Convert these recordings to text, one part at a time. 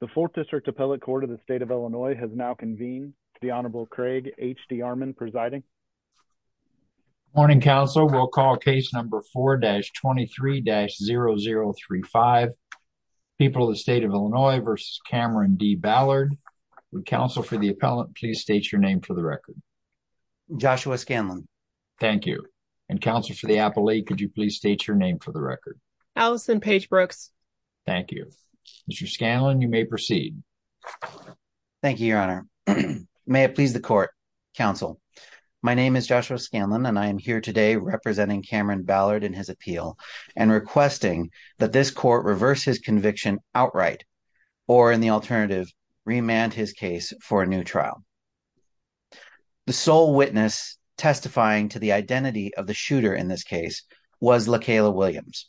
The 4th District Appellate Court of the State of Illinois has now convened. The Honorable Craig H.D. Armon presiding. Good morning, counsel. We'll call case number 4-23-0035, People of the State of Illinois v. Cameron D. Ballard. Would counsel for the appellant please state your name for the record? Joshua Scanlon. Thank you. And counsel for the appellate, could you please state your name for the record? Allison Page Brooks. Thank you. Mr. Scanlon, you may proceed. Thank you, Your Honor. May it please the court, counsel, my name is Joshua Scanlon and I am here today representing Cameron Ballard in his appeal and requesting that this court reverse his conviction outright or in the alternative remand his case for a new trial. The sole witness testifying to the identity of the shooter in this case was LaKayla Williams.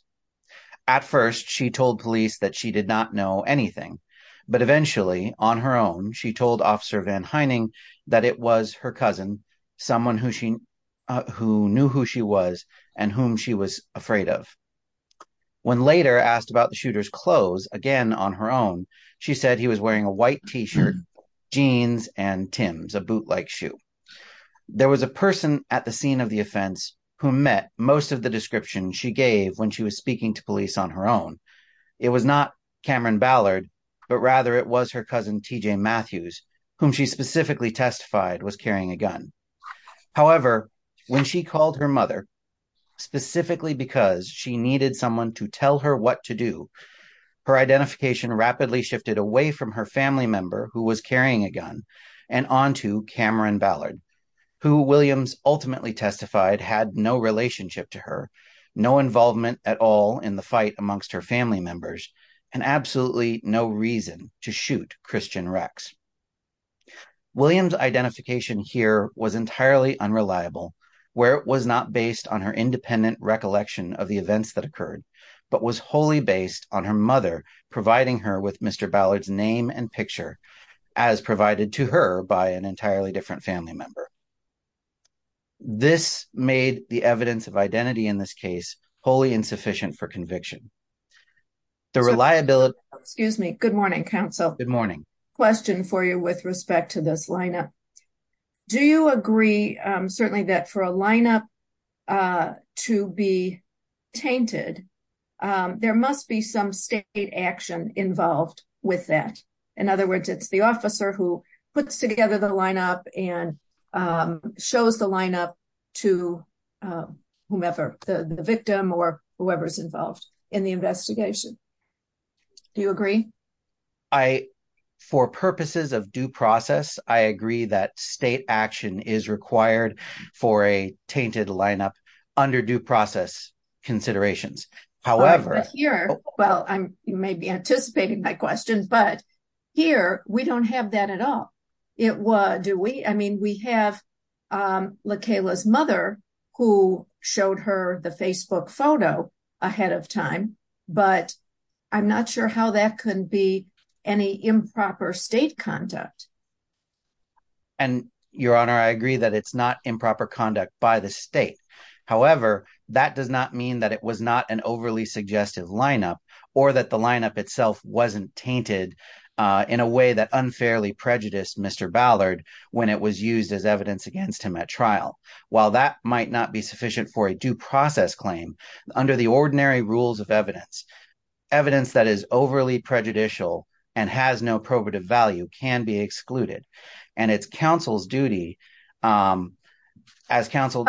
At first, she told police that she did not know anything. But eventually, on her own, she told Officer Van Hyning that it was her cousin, someone who knew who she was and whom she was afraid of. When later asked about the shooter's clothes, again on her own, she said he was wearing a white t-shirt, jeans, and Tims, a bootleg shoe. There was a person at the scene of the offense who met most of the description she gave when she was speaking to police on her own. It was not Cameron Ballard, but rather it was her cousin TJ Matthews, whom she specifically testified was carrying a gun. However, when she called her mother, specifically because she needed someone to tell her what to do, her identification rapidly shifted away from her family member who was carrying a gun and on to Cameron Ballard, who Williams ultimately testified had no relationship to her, no involvement at all in the fight amongst her family members, and absolutely no reason to shoot Christian Rex. Williams' identification here was entirely unreliable, where it was not based on her independent recollection of the events that occurred, but was wholly based on her mother providing her with Mr. Ballard's name and picture, as provided to her by an entirely different family member. This made the evidence of identity in this case wholly insufficient for conviction. The reliability... Excuse me. Good morning, counsel. Good morning. Question for you with respect to this lineup. Do you agree, certainly, that for a lineup to be tainted, there must be some state action involved with that? In other words, it's the officer who puts together the lineup and shows the lineup to whomever, the victim or whoever's involved in the investigation. Do you agree? For purposes of due process, I agree that state action is required for a tainted lineup under due process considerations. However... Well, you may be anticipating my question, but here, we don't have that at all. Do we? I mean, we have LaKayla's mother who showed her the Facebook photo ahead of time, but I'm not sure how that could be any improper state conduct. And, Your Honor, I agree that it's not improper conduct by the state. However, that does not mean that it was not an overly suggestive lineup or that the lineup itself wasn't tainted in a way that unfairly prejudiced Mr. Ballard when it was used as evidence against him at trial. While that might not be sufficient for a due process claim, under the ordinary rules of evidence, evidence that is overly prejudicial and has no probative value can be excluded. And it's counsel's duty as counsel...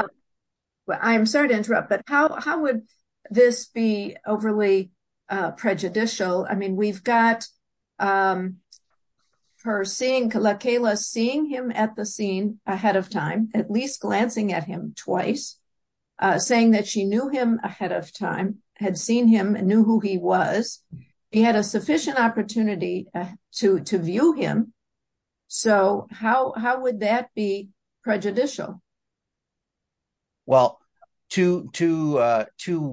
Well, two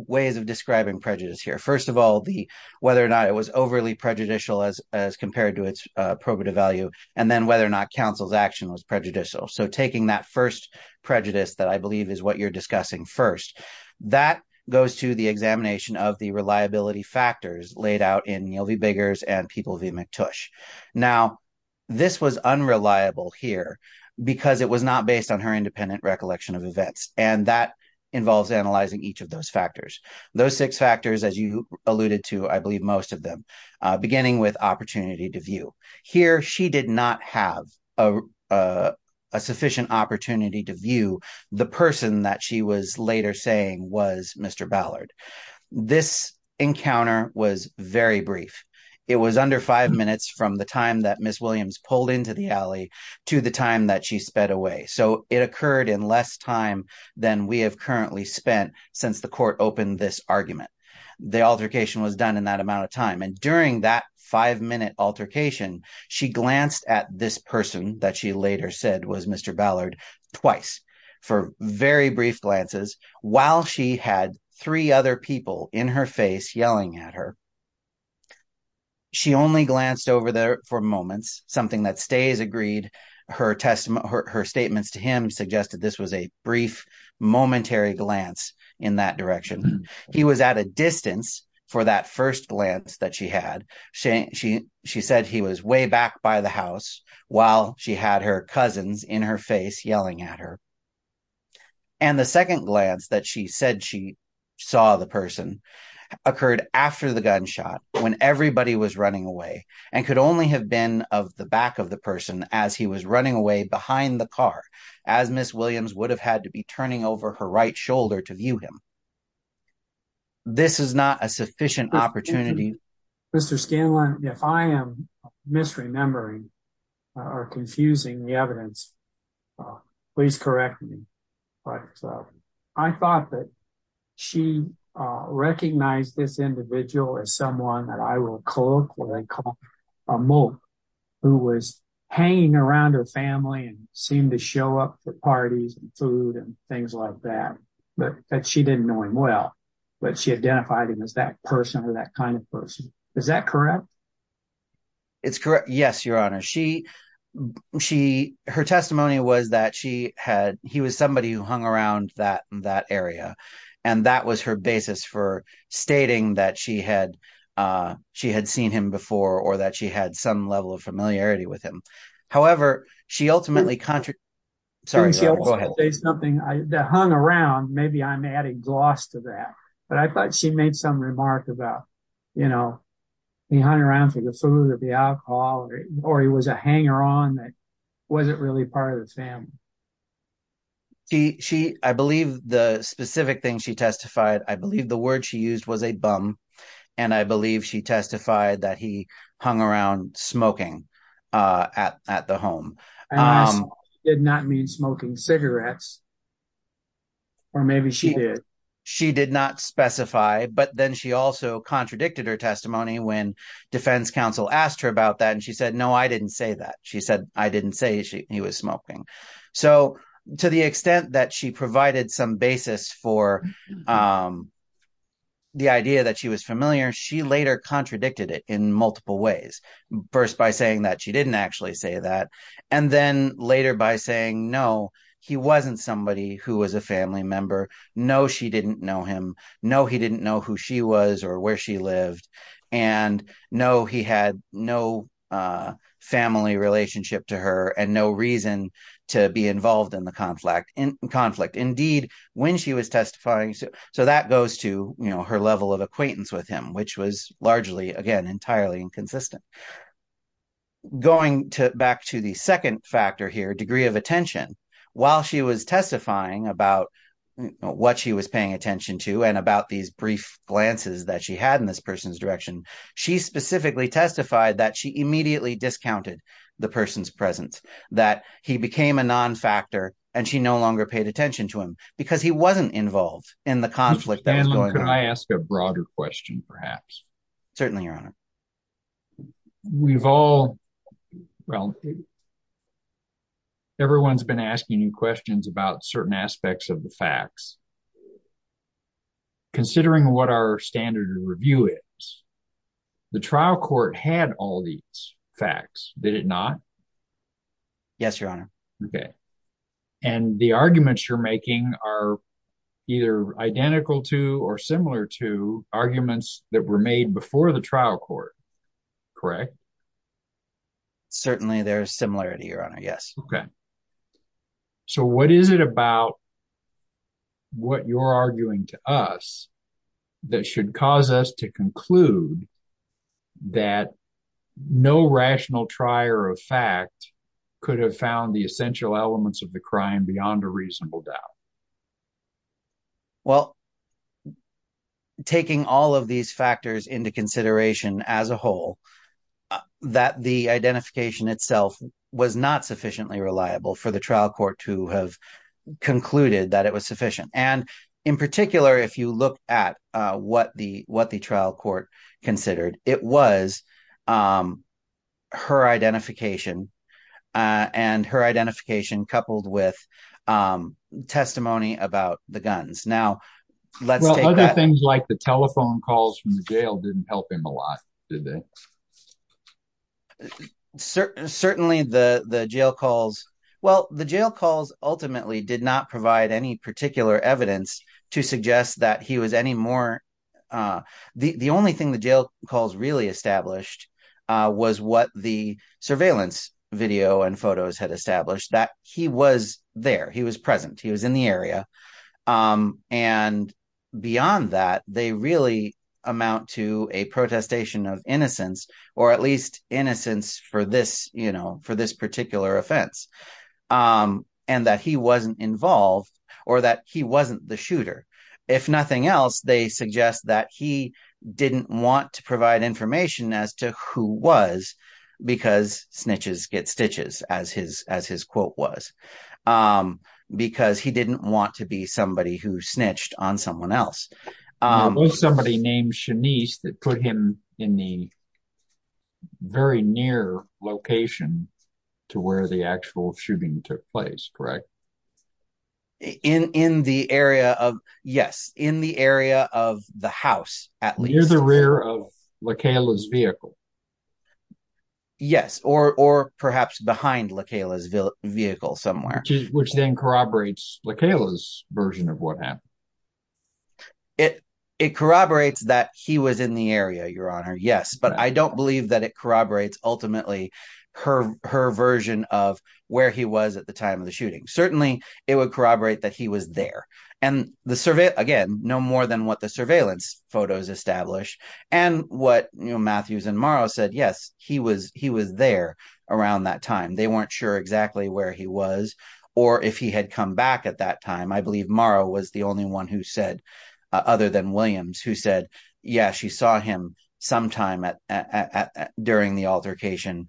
ways of describing prejudice here. First of all, whether or not it was overly prejudicial as compared to its probative value, and then whether or not counsel's action was prejudicial. So, taking that first prejudice that I believe is what you're discussing first, that goes to the examination of the reliability factors laid out in Neal v. Biggers and People v. McTush. Now, this was unreliable here because it was not based on her independent recollection of events, and that involves analyzing each of those factors. Those six factors, as you alluded to, I believe most of them, beginning with opportunity to view. Here, she did not have a sufficient opportunity to view the person that she was later saying was Mr. Ballard. This encounter was very brief. It was under five minutes from the time that Ms. Williams pulled into the alley to the time that she sped away. So, it occurred in less time than we have currently spent since the court opened this argument. The altercation was done in that amount of time, and during that five-minute altercation, she glanced at this person that she later said was Mr. Ballard twice for very brief glances while she had three other people in her face yelling at her. She only glanced over there for moments, something that stays agreed. Her statements to him suggested this was a brief, momentary glance in that direction. He was at a distance for that first glance that she had. She said he was way back by the house while she had her cousins in her face yelling at her. And the second glance that she said she saw the person occurred after the gunshot, when everybody was running away, and could only have been of the back of the person as he was running away behind the car, as Ms. Williams would have had to be turning over her right shoulder to view him. This is not a sufficient opportunity. But she identified him as that person or that kind of person. Is that correct? It's correct. Yes, Your Honor. Her testimony was that he was somebody who hung around that area, and that was her basis for stating that she had seen him before or that she had some level of familiarity with him. However, she ultimately contradicted… She ultimately said something that hung around. Maybe I'm adding gloss to that, but I thought she made some remark about, you know, he hung around for the food or the alcohol, or he was a hanger-on that wasn't really part of the family. I believe the specific thing she testified, I believe the word she used was a bum, and I believe she testified that he hung around smoking at the home. And this did not mean smoking cigarettes, or maybe she did. She did not specify, but then she also contradicted her testimony when defense counsel asked her about that, and she said, no, I didn't say that. She said, I didn't say he was smoking. So to the extent that she provided some basis for the idea that she was familiar, she later contradicted it in multiple ways. First by saying that she didn't actually say that, and then later by saying, no, he wasn't somebody who was a family member. No, she didn't know him. No, he didn't know who she was or where she lived. And no, he had no family relationship to her and no reason to be involved in the conflict. Indeed, when she was testifying… So that goes to her level of acquaintance with him, which was largely, again, entirely inconsistent. Going back to the second factor here, degree of attention, while she was testifying about what she was paying attention to and about these brief glances that she had in this person's direction, she specifically testified that she immediately discounted the person's presence, that he became a non-factor and she no longer paid attention to him because he wasn't involved in the conflict. Can I ask a broader question, perhaps? Certainly, Your Honor. We've all… well, everyone's been asking you questions about certain aspects of the facts. Considering what our standard of review is, the trial court had all these facts, did it not? Yes, Your Honor. Okay. And the arguments you're making are either identical to or similar to arguments that were made before the trial court, correct? Certainly, they're similar to you, Your Honor. Yes. Okay. So what is it about what you're arguing to us that should cause us to conclude that no rational trier of fact could have found the essential elements of the crime beyond a reasonable doubt? Well, taking all of these factors into consideration as a whole, that the identification itself was not sufficiently reliable for the trial court to have concluded that it was sufficient. And in particular, if you look at what the trial court considered, it was her identification and her identification coupled with testimony about the guns. Now, let's take that… Well, other things like the telephone calls from the jail didn't help him a lot, did they? Certainly, the jail calls… Well, the jail calls ultimately did not provide any particular evidence to suggest that he was any more…… or at least innocence for this particular offense, and that he wasn't involved or that he wasn't the shooter. If nothing else, they suggest that he didn't want to provide information as to who was because snitches get stitches, as his quote was, because he didn't want to be somebody who snitched on someone else. It was somebody named Shanice that put him in the very near location to where the actual shooting took place, correct? In the area of… Yes, in the area of the house, at least. Near the rear of LaCayla's vehicle. Yes, or perhaps behind LaCayla's vehicle somewhere. Which then corroborates LaCayla's version of what happened. It corroborates that he was in the area, Your Honor, yes, but I don't believe that it corroborates ultimately her version of where he was at the time of the shooting. Certainly, it would corroborate that he was there. And again, no more than what the surveillance photos establish. And what Matthews and Morrow said, yes, he was there around that time. They weren't sure exactly where he was or if he had come back at that time. I believe Morrow was the only one who said, other than Williams, who said, yes, she saw him sometime during the altercation,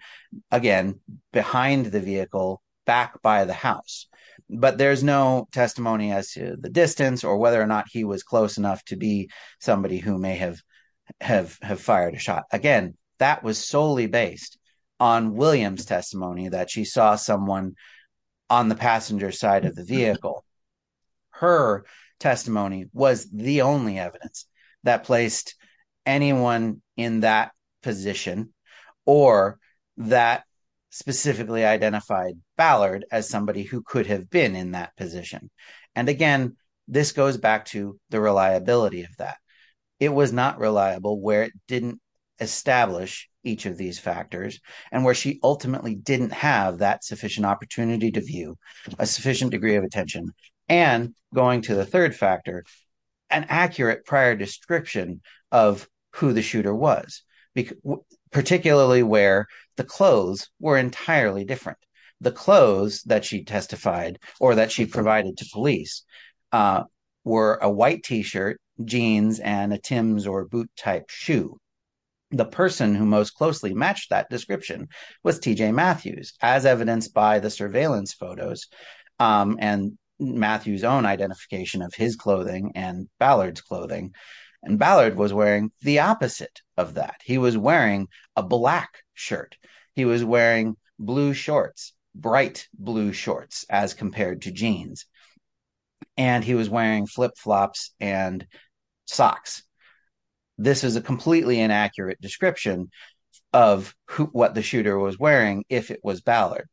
again, behind the vehicle, back by the house. But there's no testimony as to the distance or whether or not he was close enough to be somebody who may have fired a shot. Again, that was solely based on Williams' testimony that she saw someone on the passenger side of the vehicle. Her testimony was the only evidence that placed anyone in that position or that specifically identified Ballard as somebody who could have been in that position. And again, this goes back to the reliability of that. It was not reliable where it didn't establish each of these factors. And where she ultimately didn't have that sufficient opportunity to view, a sufficient degree of attention. And going to the third factor, an accurate prior description of who the shooter was, particularly where the clothes were entirely different. The clothes that she testified or that she provided to police were a white T-shirt, jeans, and a Timbs or boot type shoe. The person who most closely matched that description was T.J. Matthews, as evidenced by the surveillance photos and Matthew's own identification of his clothing and Ballard's clothing. And Ballard was wearing the opposite of that. He was wearing a black shirt. He was wearing blue shorts, bright blue shorts as compared to jeans. And he was wearing flip flops and socks. This is a completely inaccurate description of what the shooter was wearing if it was Ballard.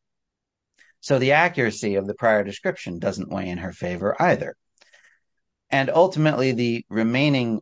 So the accuracy of the prior description doesn't weigh in her favor either. And ultimately the remaining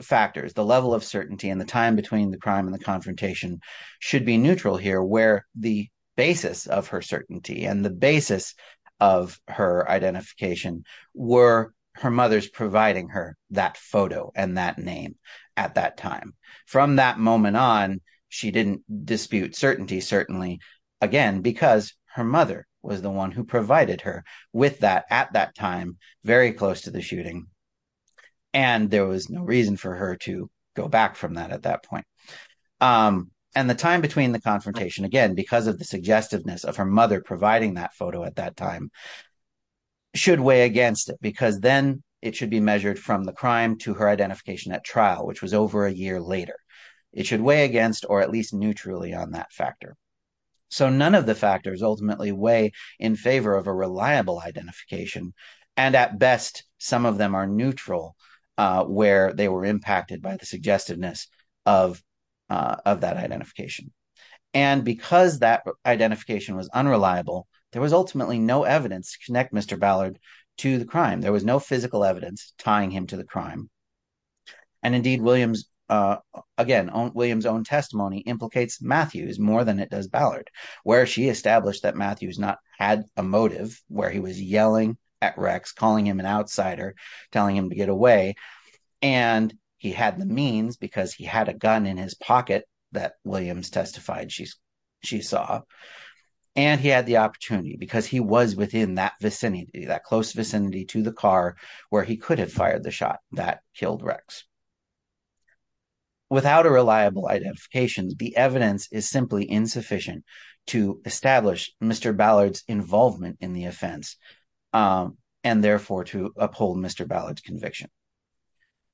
factors, the level of certainty and the time between the crime and the confrontation should be neutral here where the basis of her certainty and the basis of her identification were her mother's providing her that photo and that name at that time. From that moment on, she didn't dispute certainty, certainly, again, because her mother was the one who provided her with that at that time, very close to the shooting. And there was no reason for her to go back from that at that point. And the time between the confrontation, again, because of the suggestiveness of her mother providing that photo at that time should weigh against it because then it should be measured from the crime to her identification at trial, which was over a year later. It should weigh against or at least neutrally on that factor. So none of the factors ultimately weigh in favor of a reliable identification. And at best, some of them are neutral where they were impacted by the suggestiveness of that identification. And because that identification was unreliable, there was ultimately no evidence to connect Mr. Ballard to the crime. There was no physical evidence tying him to the crime. And indeed, Williams, again, Williams' own testimony implicates Matthews more than it does Ballard, where she established that Matthews not had a motive where he was yelling at Rex, calling him an outsider, telling him to get away. And he had the means because he had a gun in his pocket that Williams testified she saw. And he had the opportunity because he was within that vicinity, that close vicinity to the car where he could have fired the shot that killed Rex. Without a reliable identification, the evidence is simply insufficient to establish Mr. Ballard's involvement in the offense and therefore to uphold Mr. Ballard's conviction.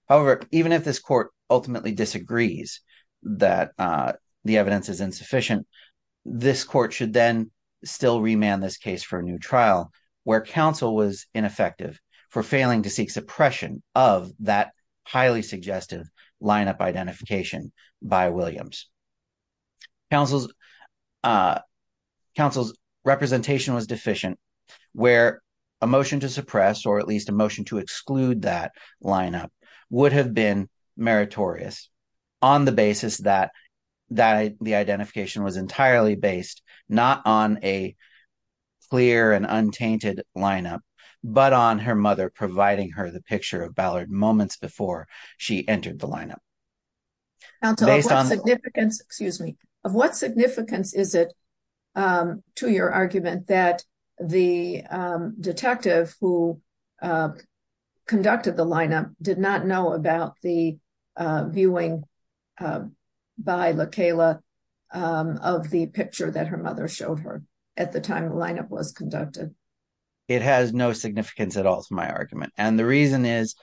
However, even if this court ultimately disagrees that the evidence is insufficient, this court should then still remand this case for a new trial where counsel was ineffective for failing to seek suppression of that highly suggestive lineup identification by Williams. Counsel's representation was deficient, where a motion to suppress or at least a motion to exclude that lineup would have been meritorious on the basis that the identification was entirely based not on a clear and untainted lineup, but on her mother providing her the picture of Ballard moments before she entered the lineup. Counsel, of what significance, excuse me, of what significance is it to your argument that the detective who conducted the lineup did not know about the viewing by LaKayla of the picture that her mother showed her at the time the lineup was conducted? It has no significance at all to my argument. And the reason is,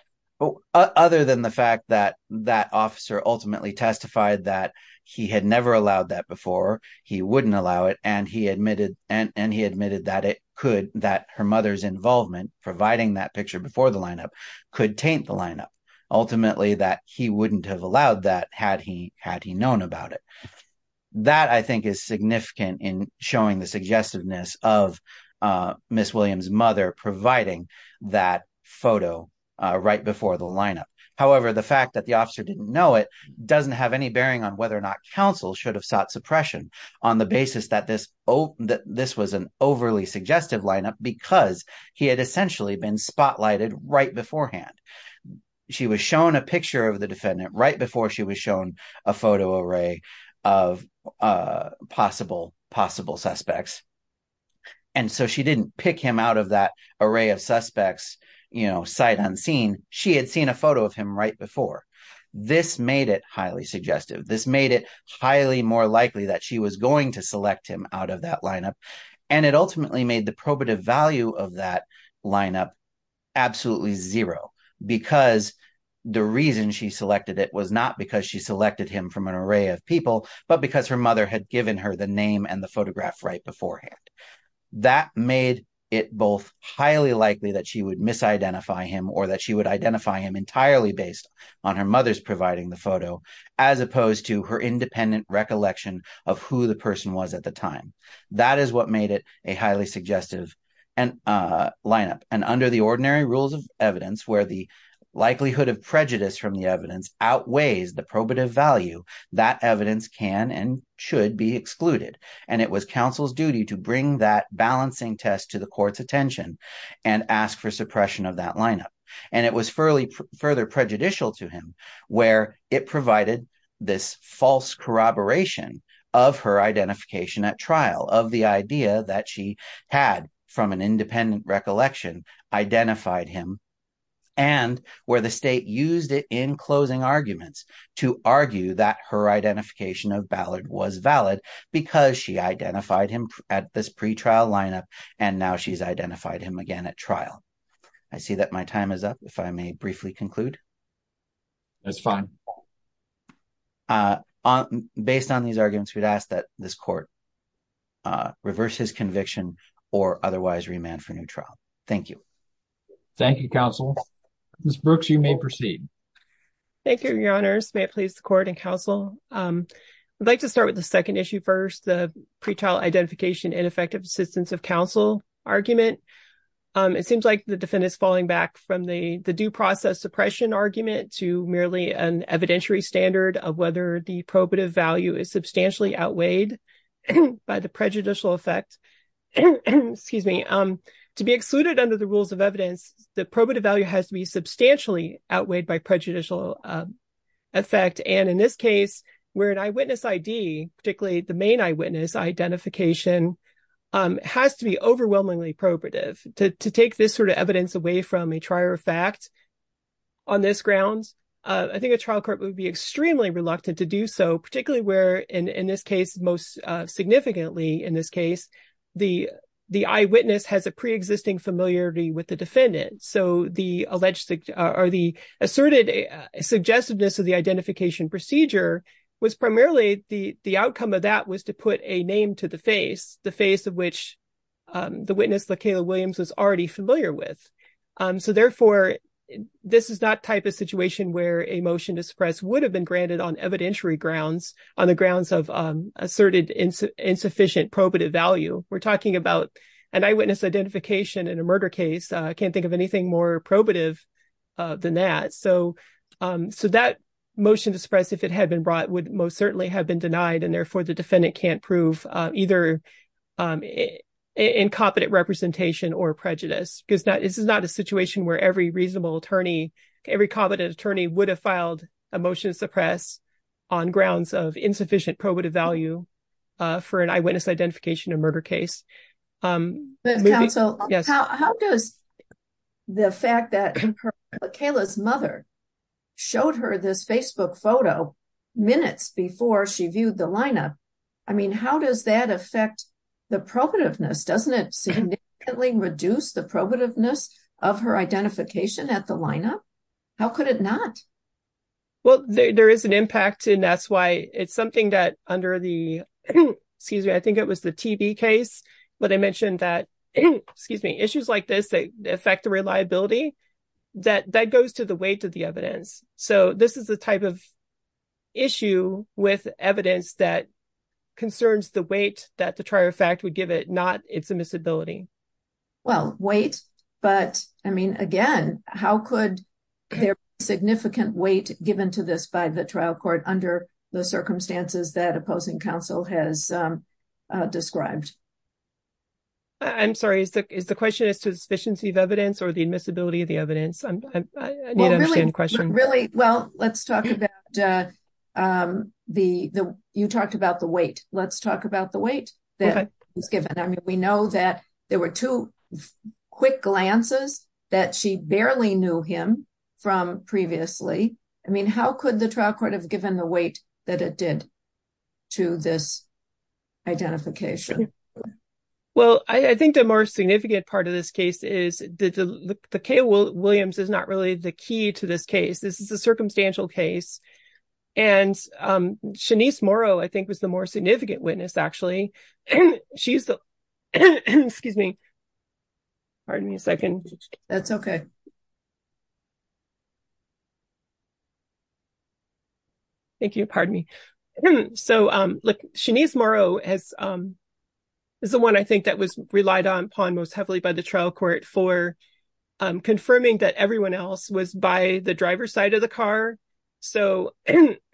other than the fact that that officer ultimately testified that he had never allowed that before, he wouldn't allow it, and he admitted that it could, that her mother's involvement providing that picture before the lineup could taint the lineup. Ultimately, that he wouldn't have allowed that had he had he known about it. That I think is significant in showing the suggestiveness of Miss Williams' mother providing that photo right before the lineup. However, the fact that the officer didn't know it doesn't have any bearing on whether or not counsel should have sought suppression on the basis that this was an overly suggestive lineup because he had essentially been spotlighted right beforehand. She was shown a picture of the defendant right before she was shown a photo array of possible suspects, and so she didn't pick him out of that array of suspects sight unseen. She had seen a photo of him right before. This made it highly suggestive. This made it highly more likely that she was going to select him out of that lineup, and it ultimately made the probative value of that lineup absolutely zero because the reason she selected it was not because she selected him from an array of people, but because her mother had given her the name and the photograph right beforehand. That made it both highly likely that she would misidentify him or that she would identify him entirely based on her mother's providing the photo, as opposed to her independent recollection of who the person was at the time. That is what made it a highly suggestive lineup, and under the ordinary rules of evidence where the likelihood of prejudice from the evidence outweighs the probative value, that evidence can and should be excluded, and it was counsel's duty to bring that balancing test to the court's attention and ask for suppression of that lineup. And it was further prejudicial to him where it provided this false corroboration of her identification at trial, of the idea that she had from an independent recollection identified him, and where the state used it in closing arguments to argue that her identification of Ballard was valid because she identified him at this pretrial lineup, and now she's identified him again at trial. So, I think the time is up, if I may briefly conclude. That's fine. Based on these arguments, we'd ask that this court reverse his conviction or otherwise remand for new trial. Thank you. Thank you, counsel. Ms. Brooks, you may proceed. Thank you, your honors. May it please the court and counsel. I'd like to start with the second issue first, the pretrial identification and effective assistance of counsel argument. It seems like the defendant is falling back from the due process suppression argument to merely an evidentiary standard of whether the probative value is substantially outweighed by the prejudicial effect. To be excluded under the rules of evidence, the probative value has to be substantially outweighed by prejudicial effect. And in this case, where an eyewitness ID, particularly the main eyewitness identification, has to be overwhelmingly probative. To take this sort of evidence away from a trier of fact on this grounds, I think a trial court would be extremely reluctant to do so, particularly where, in this case, most significantly, in this case, the eyewitness has a preexisting familiarity with the defendant. So the asserted suggestiveness of the identification procedure was primarily the outcome of that was to put a name to the face, the face of which the witness, LaKayla Williams, was already familiar with. So, therefore, this is not the type of situation where a motion to suppress would have been granted on evidentiary grounds, on the grounds of asserted insufficient probative value. We're talking about an eyewitness identification in a murder case. I can't think of anything more probative than that. So that motion to suppress, if it had been brought, would most certainly have been denied and, therefore, the defendant can't prove either incompetent representation or prejudice. This is not a situation where every reasonable attorney, every competent attorney, would have filed a motion to suppress on grounds of insufficient probative value for an eyewitness identification in a murder case. Counsel, how does the fact that LaKayla's mother showed her this Facebook photo minutes before she viewed the lineup, I mean, how does that affect the probativeness? Doesn't it significantly reduce the probativeness of her identification at the lineup? How could it not? Well, there is an impact, and that's why it's something that under the, excuse me, I think it was the TB case, but I mentioned that, excuse me, issues like this that affect the reliability, that goes to the weight of the evidence. So this is the type of issue with evidence that concerns the weight that the trial fact would give it, not its admissibility. Well, weight, but, I mean, again, how could there be significant weight given to this by the trial court under the circumstances that opposing counsel has described? I'm sorry, is the question as to the sufficiency of evidence or the admissibility of the evidence? I need to understand the question. Really? Well, let's talk about the, you talked about the weight. Let's talk about the weight that was given. I mean, we know that there were two quick glances that she barely knew him from previously. I mean, how could the trial court have given the weight that it did to this identification? Well, I think the more significant part of this case is that the Kay Williams is not really the key to this case. This is a circumstantial case, and Shanice Morrow, I think, was the more significant witness, actually. She's the, excuse me, pardon me a second. That's okay. Thank you, pardon me. So, Shanice Morrow is the one I think that was relied upon most heavily by the trial court for confirming that everyone else was by the driver's side of the car. So,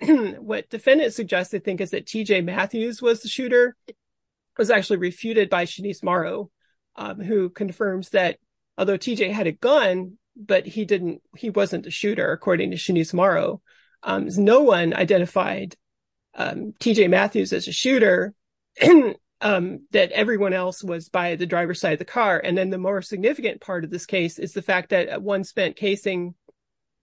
what defendants suggest, I think, is that T.J. Matthews was the shooter, was actually refuted by Shanice Morrow, who confirms that although T.J. had a gun, but he didn't, he wasn't the shooter, according to Shanice Morrow. No one identified T.J. Matthews as a shooter, that everyone else was by the driver's side of the car. And then the more significant part of this case is the fact that one spent casing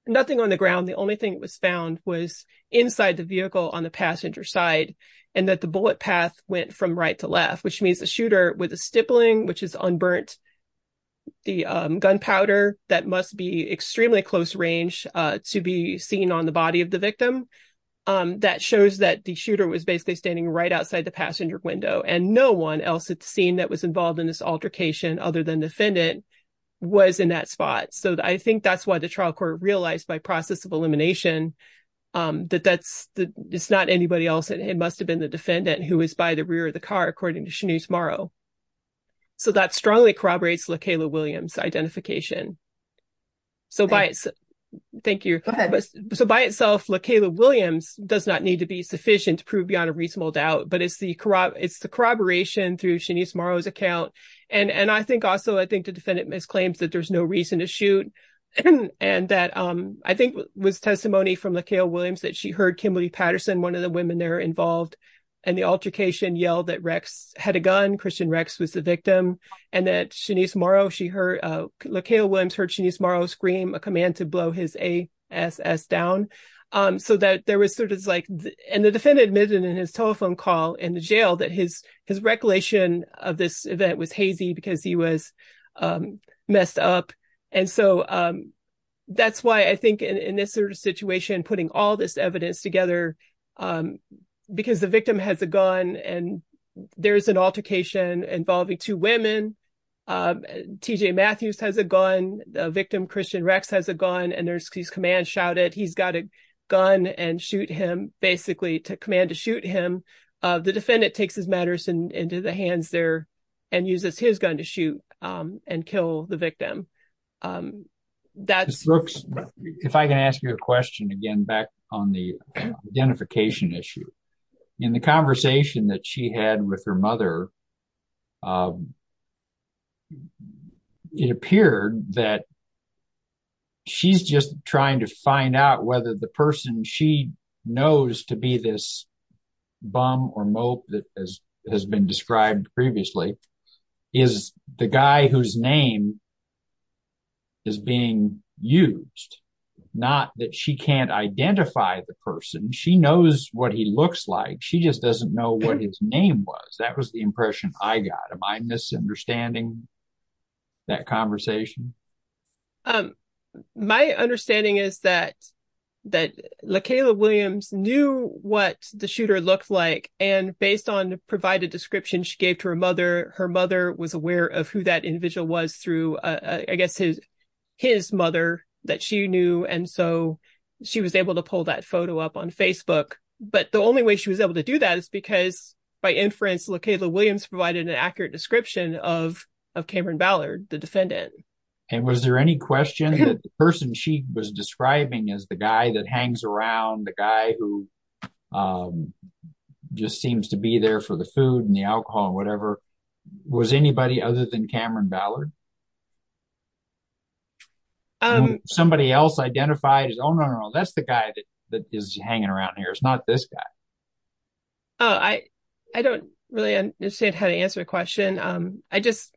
nothing on the ground. The only thing that was found was inside the vehicle on the passenger side, and that the bullet path went from right to left, which means the shooter with a stippling, which is unburnt, the gunpowder, that must be extremely close range to be seen on the body of the victim, that shows that the shooter was basically standing right outside the passenger window. And no one else at the scene that was involved in this altercation, other than the defendant, was in that spot. So, I think that's why the trial court realized by process of elimination that it's not anybody else. It must have been the defendant who was by the rear of the car, according to Shanice Morrow. So, that strongly corroborates LaKayla Williams' identification. So, by itself, LaKayla Williams does not need to be sufficient to prove beyond a reasonable doubt, but it's the corroboration through Shanice Morrow's account. And I think also, I think the defendant misclaims that there's no reason to shoot, and that I think was testimony from LaKayla Williams that she heard Kimberly Patterson, one of the women there involved, and the altercation yelled that Rex had a gun, Christian Rex was the victim, and that Shanice Morrow, she heard, LaKayla Williams heard Shanice Morrow scream a command to blow his ASS down. So, that there was sort of like, and the defendant admitted in his telephone call in the jail that his recollation of this event was hazy because he was messed up. And so, that's why I think in this sort of situation, putting all this evidence together, because the victim has a gun, and there is an altercation involving two women, TJ Matthews has a gun, the victim, Christian Rex, has a gun, and there's these commands shouted, he's got a gun and shoot him, basically to command to shoot him. The defendant takes his matters into the hands there and uses his gun to shoot and kill the victim. If I can ask you a question again back on the identification issue. In the conversation that she had with her mother, it appeared that she's just trying to find out whether the person she knows to be this bum or mope that has been described previously is the guy whose name is being used. Not that she can't identify the person, she knows what he looks like, she just doesn't know what his name was. That was the impression I got. Am I misunderstanding that conversation? My understanding is that LaKayla Williams knew what the shooter looked like, and based on the provided description she gave to her mother, her mother was aware of who that individual was through, I guess, his mother that she knew, and so she was able to pull that photo up on Facebook. But the only way she was able to do that is because, by inference, LaKayla Williams provided an accurate description of Cameron Ballard, the defendant. And was there any question that the person she was describing as the guy that hangs around, the guy who just seems to be there for the food and the alcohol, whatever, was anybody other than Cameron Ballard? Somebody else identified as, oh, no, no, no, that's the guy that is hanging around here, it's not this guy. Oh, I don't really understand how to answer the question. I just,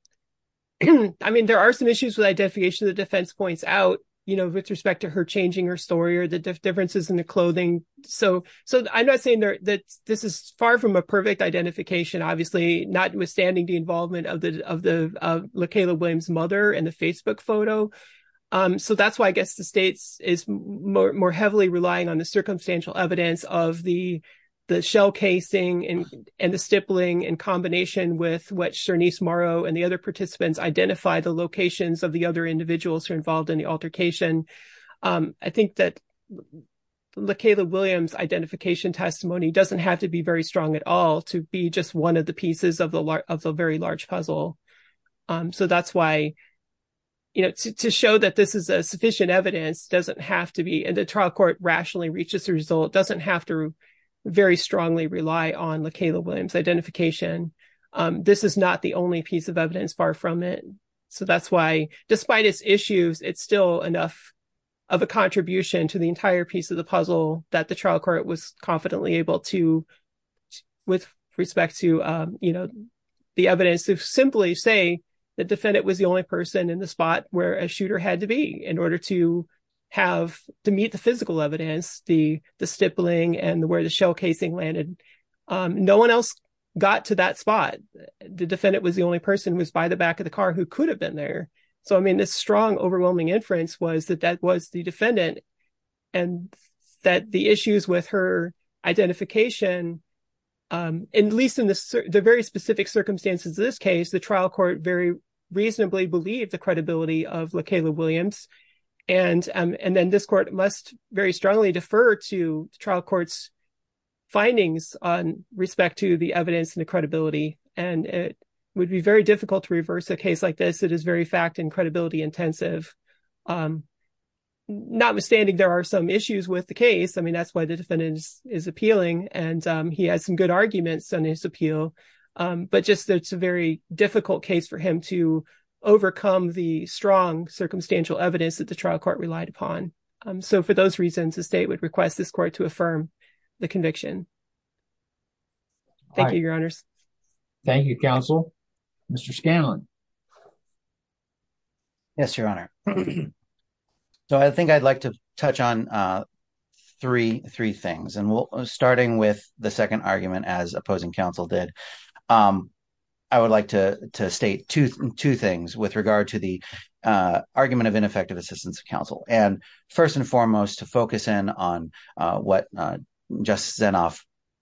I mean, there are some issues with identification the defense points out, you know, with respect to her changing her story or the differences in the clothing. So I'm not saying that this is far from a perfect identification, obviously, notwithstanding the involvement of the LaKayla Williams' mother and the Facebook photo. So that's why I guess the state is more heavily relying on the circumstantial evidence of the shell casing and the stippling in combination with what Sharnice Morrow and the other participants identified the locations of the other individuals who are involved in the altercation. I think that LaKayla Williams' identification testimony doesn't have to be very strong at all to be just one of the pieces of the very large puzzle. So that's why, you know, to show that this is a sufficient evidence doesn't have to be, and the trial court rationally reaches the result, doesn't have to very strongly rely on LaKayla Williams' identification. This is not the only piece of evidence far from it. So that's why, despite its issues, it's still enough of a contribution to the entire piece of the puzzle that the trial court was confidently able to, with respect to, you know, the evidence to simply say the defendant was the only person in the spot where a shooter had to be in order to have to meet the physical evidence, the stippling and where the shell casing landed. No one else got to that spot. The defendant was the only person who was by the back of the car who could have been there. So, I mean, this strong, overwhelming inference was that that was the defendant and that the issues with her identification, at least in the very specific circumstances of this case, the trial court very reasonably believed the credibility of LaKayla Williams. And then this court must very strongly defer to the trial court's findings on respect to the evidence and the credibility. And it would be very difficult to reverse a case like this. It is very fact and credibility intensive. Notwithstanding, there are some issues with the case. I mean, that's why the defendant is appealing and he has some good arguments on his appeal, but just it's a very difficult case for him to overcome the strong circumstantial evidence that the trial court relied upon. So, for those reasons, the state would request this court to affirm the conviction. Thank you, Your Honors. Thank you, Counsel. Mr. Scanlon. Yes, Your Honor. So, I think I'd like to touch on three things. And starting with the second argument, as opposing counsel did, I would like to state two things with regard to the argument of ineffective assistance of counsel. And first and foremost, to focus in on what Justice Zinoff,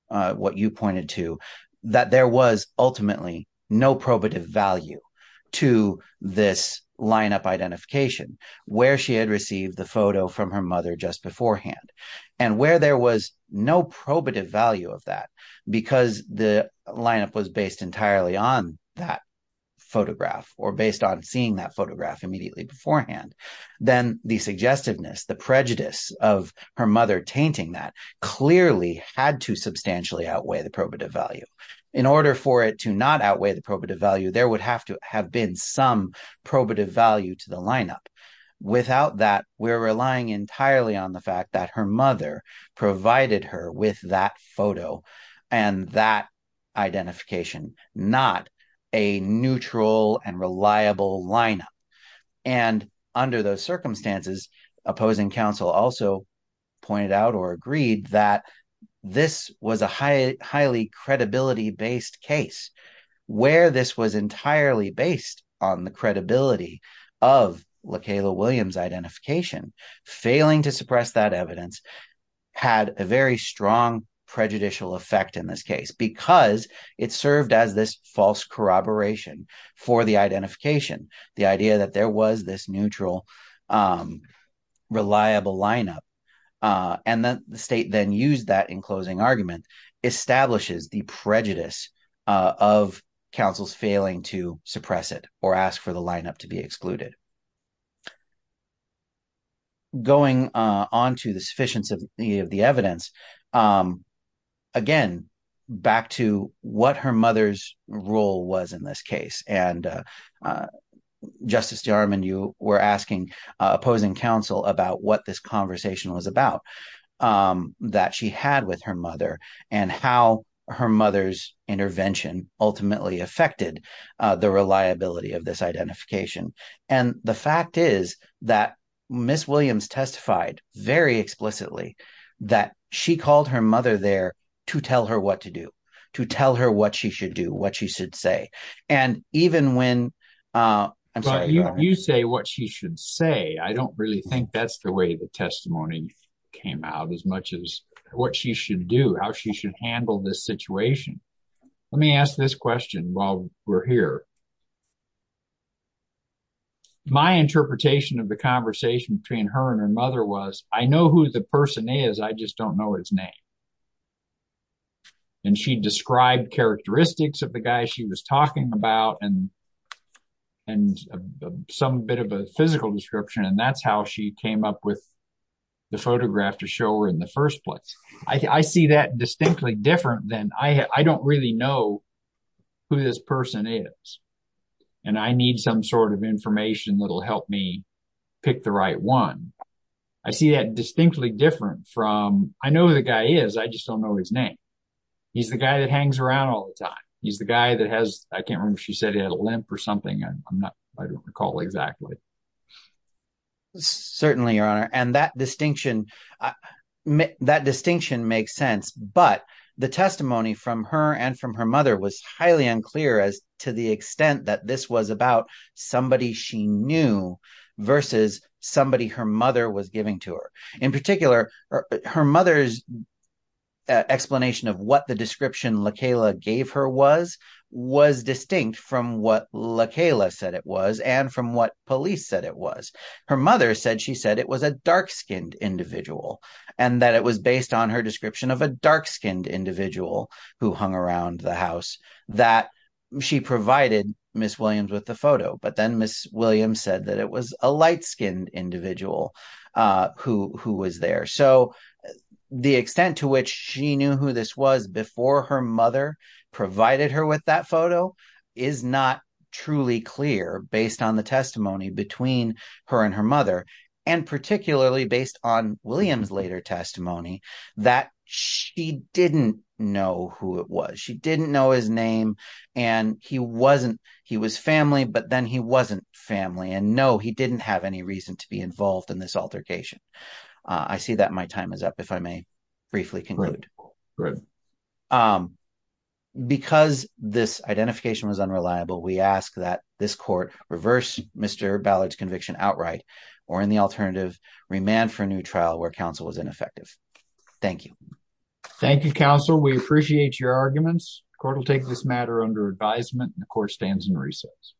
what you pointed to, that there was ultimately no probative value to this lineup identification where she had received the photo from her mother just beforehand. And where there was no probative value of that, because the lineup was based entirely on that photograph or based on seeing that photograph immediately beforehand, then the suggestiveness, the prejudice of her mother tainting that clearly had to substantially outweigh the probative value. In order for it to not outweigh the probative value, there would have to have been some probative value to the lineup. Without that, we're relying entirely on the fact that her mother provided her with that photo and that identification, not a neutral and reliable lineup. And under those circumstances, opposing counsel also pointed out or agreed that this was a highly credibility-based case. Where this was entirely based on the credibility of LaKayla Williams' identification, failing to suppress that evidence had a very strong prejudicial effect in this case. Because it served as this false corroboration for the identification, the idea that there was this neutral, reliable lineup. And the state then used that in closing argument, establishes the prejudice of counsel's failing to suppress it or ask for the lineup to be excluded. Going on to the sufficiency of the evidence, again, back to what her mother's role was in this case. And Justice Jarman, you were asking opposing counsel about what this conversation was about that she had with her mother and how her mother's intervention ultimately affected the reliability of this identification. And the fact is that Ms. Williams testified very explicitly that she called her mother there to tell her what to do, to tell her what she should do, what she should say. And even when – I'm sorry, go ahead. My interpretation of the conversation between her and her mother was, I know who the person is, I just don't know his name. And she described characteristics of the guy she was talking about and some bit of a physical description, and that's how she came up with the photograph to show her in the first place. I see that distinctly different than – I don't really know who this person is, and I need some sort of information that will help me pick the right one. I see that distinctly different from – I know who the guy is. I just don't know his name. He's the guy that hangs around all the time. He's the guy that has – I can't remember if she said he had a limp or something. I don't recall exactly. Certainly, Your Honor. And that distinction makes sense. But the testimony from her and from her mother was highly unclear as to the extent that this was about somebody she knew versus somebody her mother was giving to her. In particular, her mother's explanation of what the description LaKayla gave her was was distinct from what LaKayla said it was and from what police said it was. Her mother said she said it was a dark-skinned individual and that it was based on her description of a dark-skinned individual who hung around the house that she provided Miss Williams with the photo. But then Miss Williams said that it was a light-skinned individual who was there. So the extent to which she knew who this was before her mother provided her with that photo is not truly clear based on the testimony between her and her mother and particularly based on Williams' later testimony that she didn't know who it was. She didn't know his name and he wasn't – he was family, but then he wasn't family. And no, he didn't have any reason to be involved in this altercation. I see that my time is up if I may briefly conclude. Because this identification was unreliable, we ask that this court reverse Mr. Ballard's conviction outright or in the alternative, remand for a new trial where counsel was ineffective. Thank you. Thank you, counsel. We appreciate your arguments. The court will take this matter under advisement and the court stands in recess.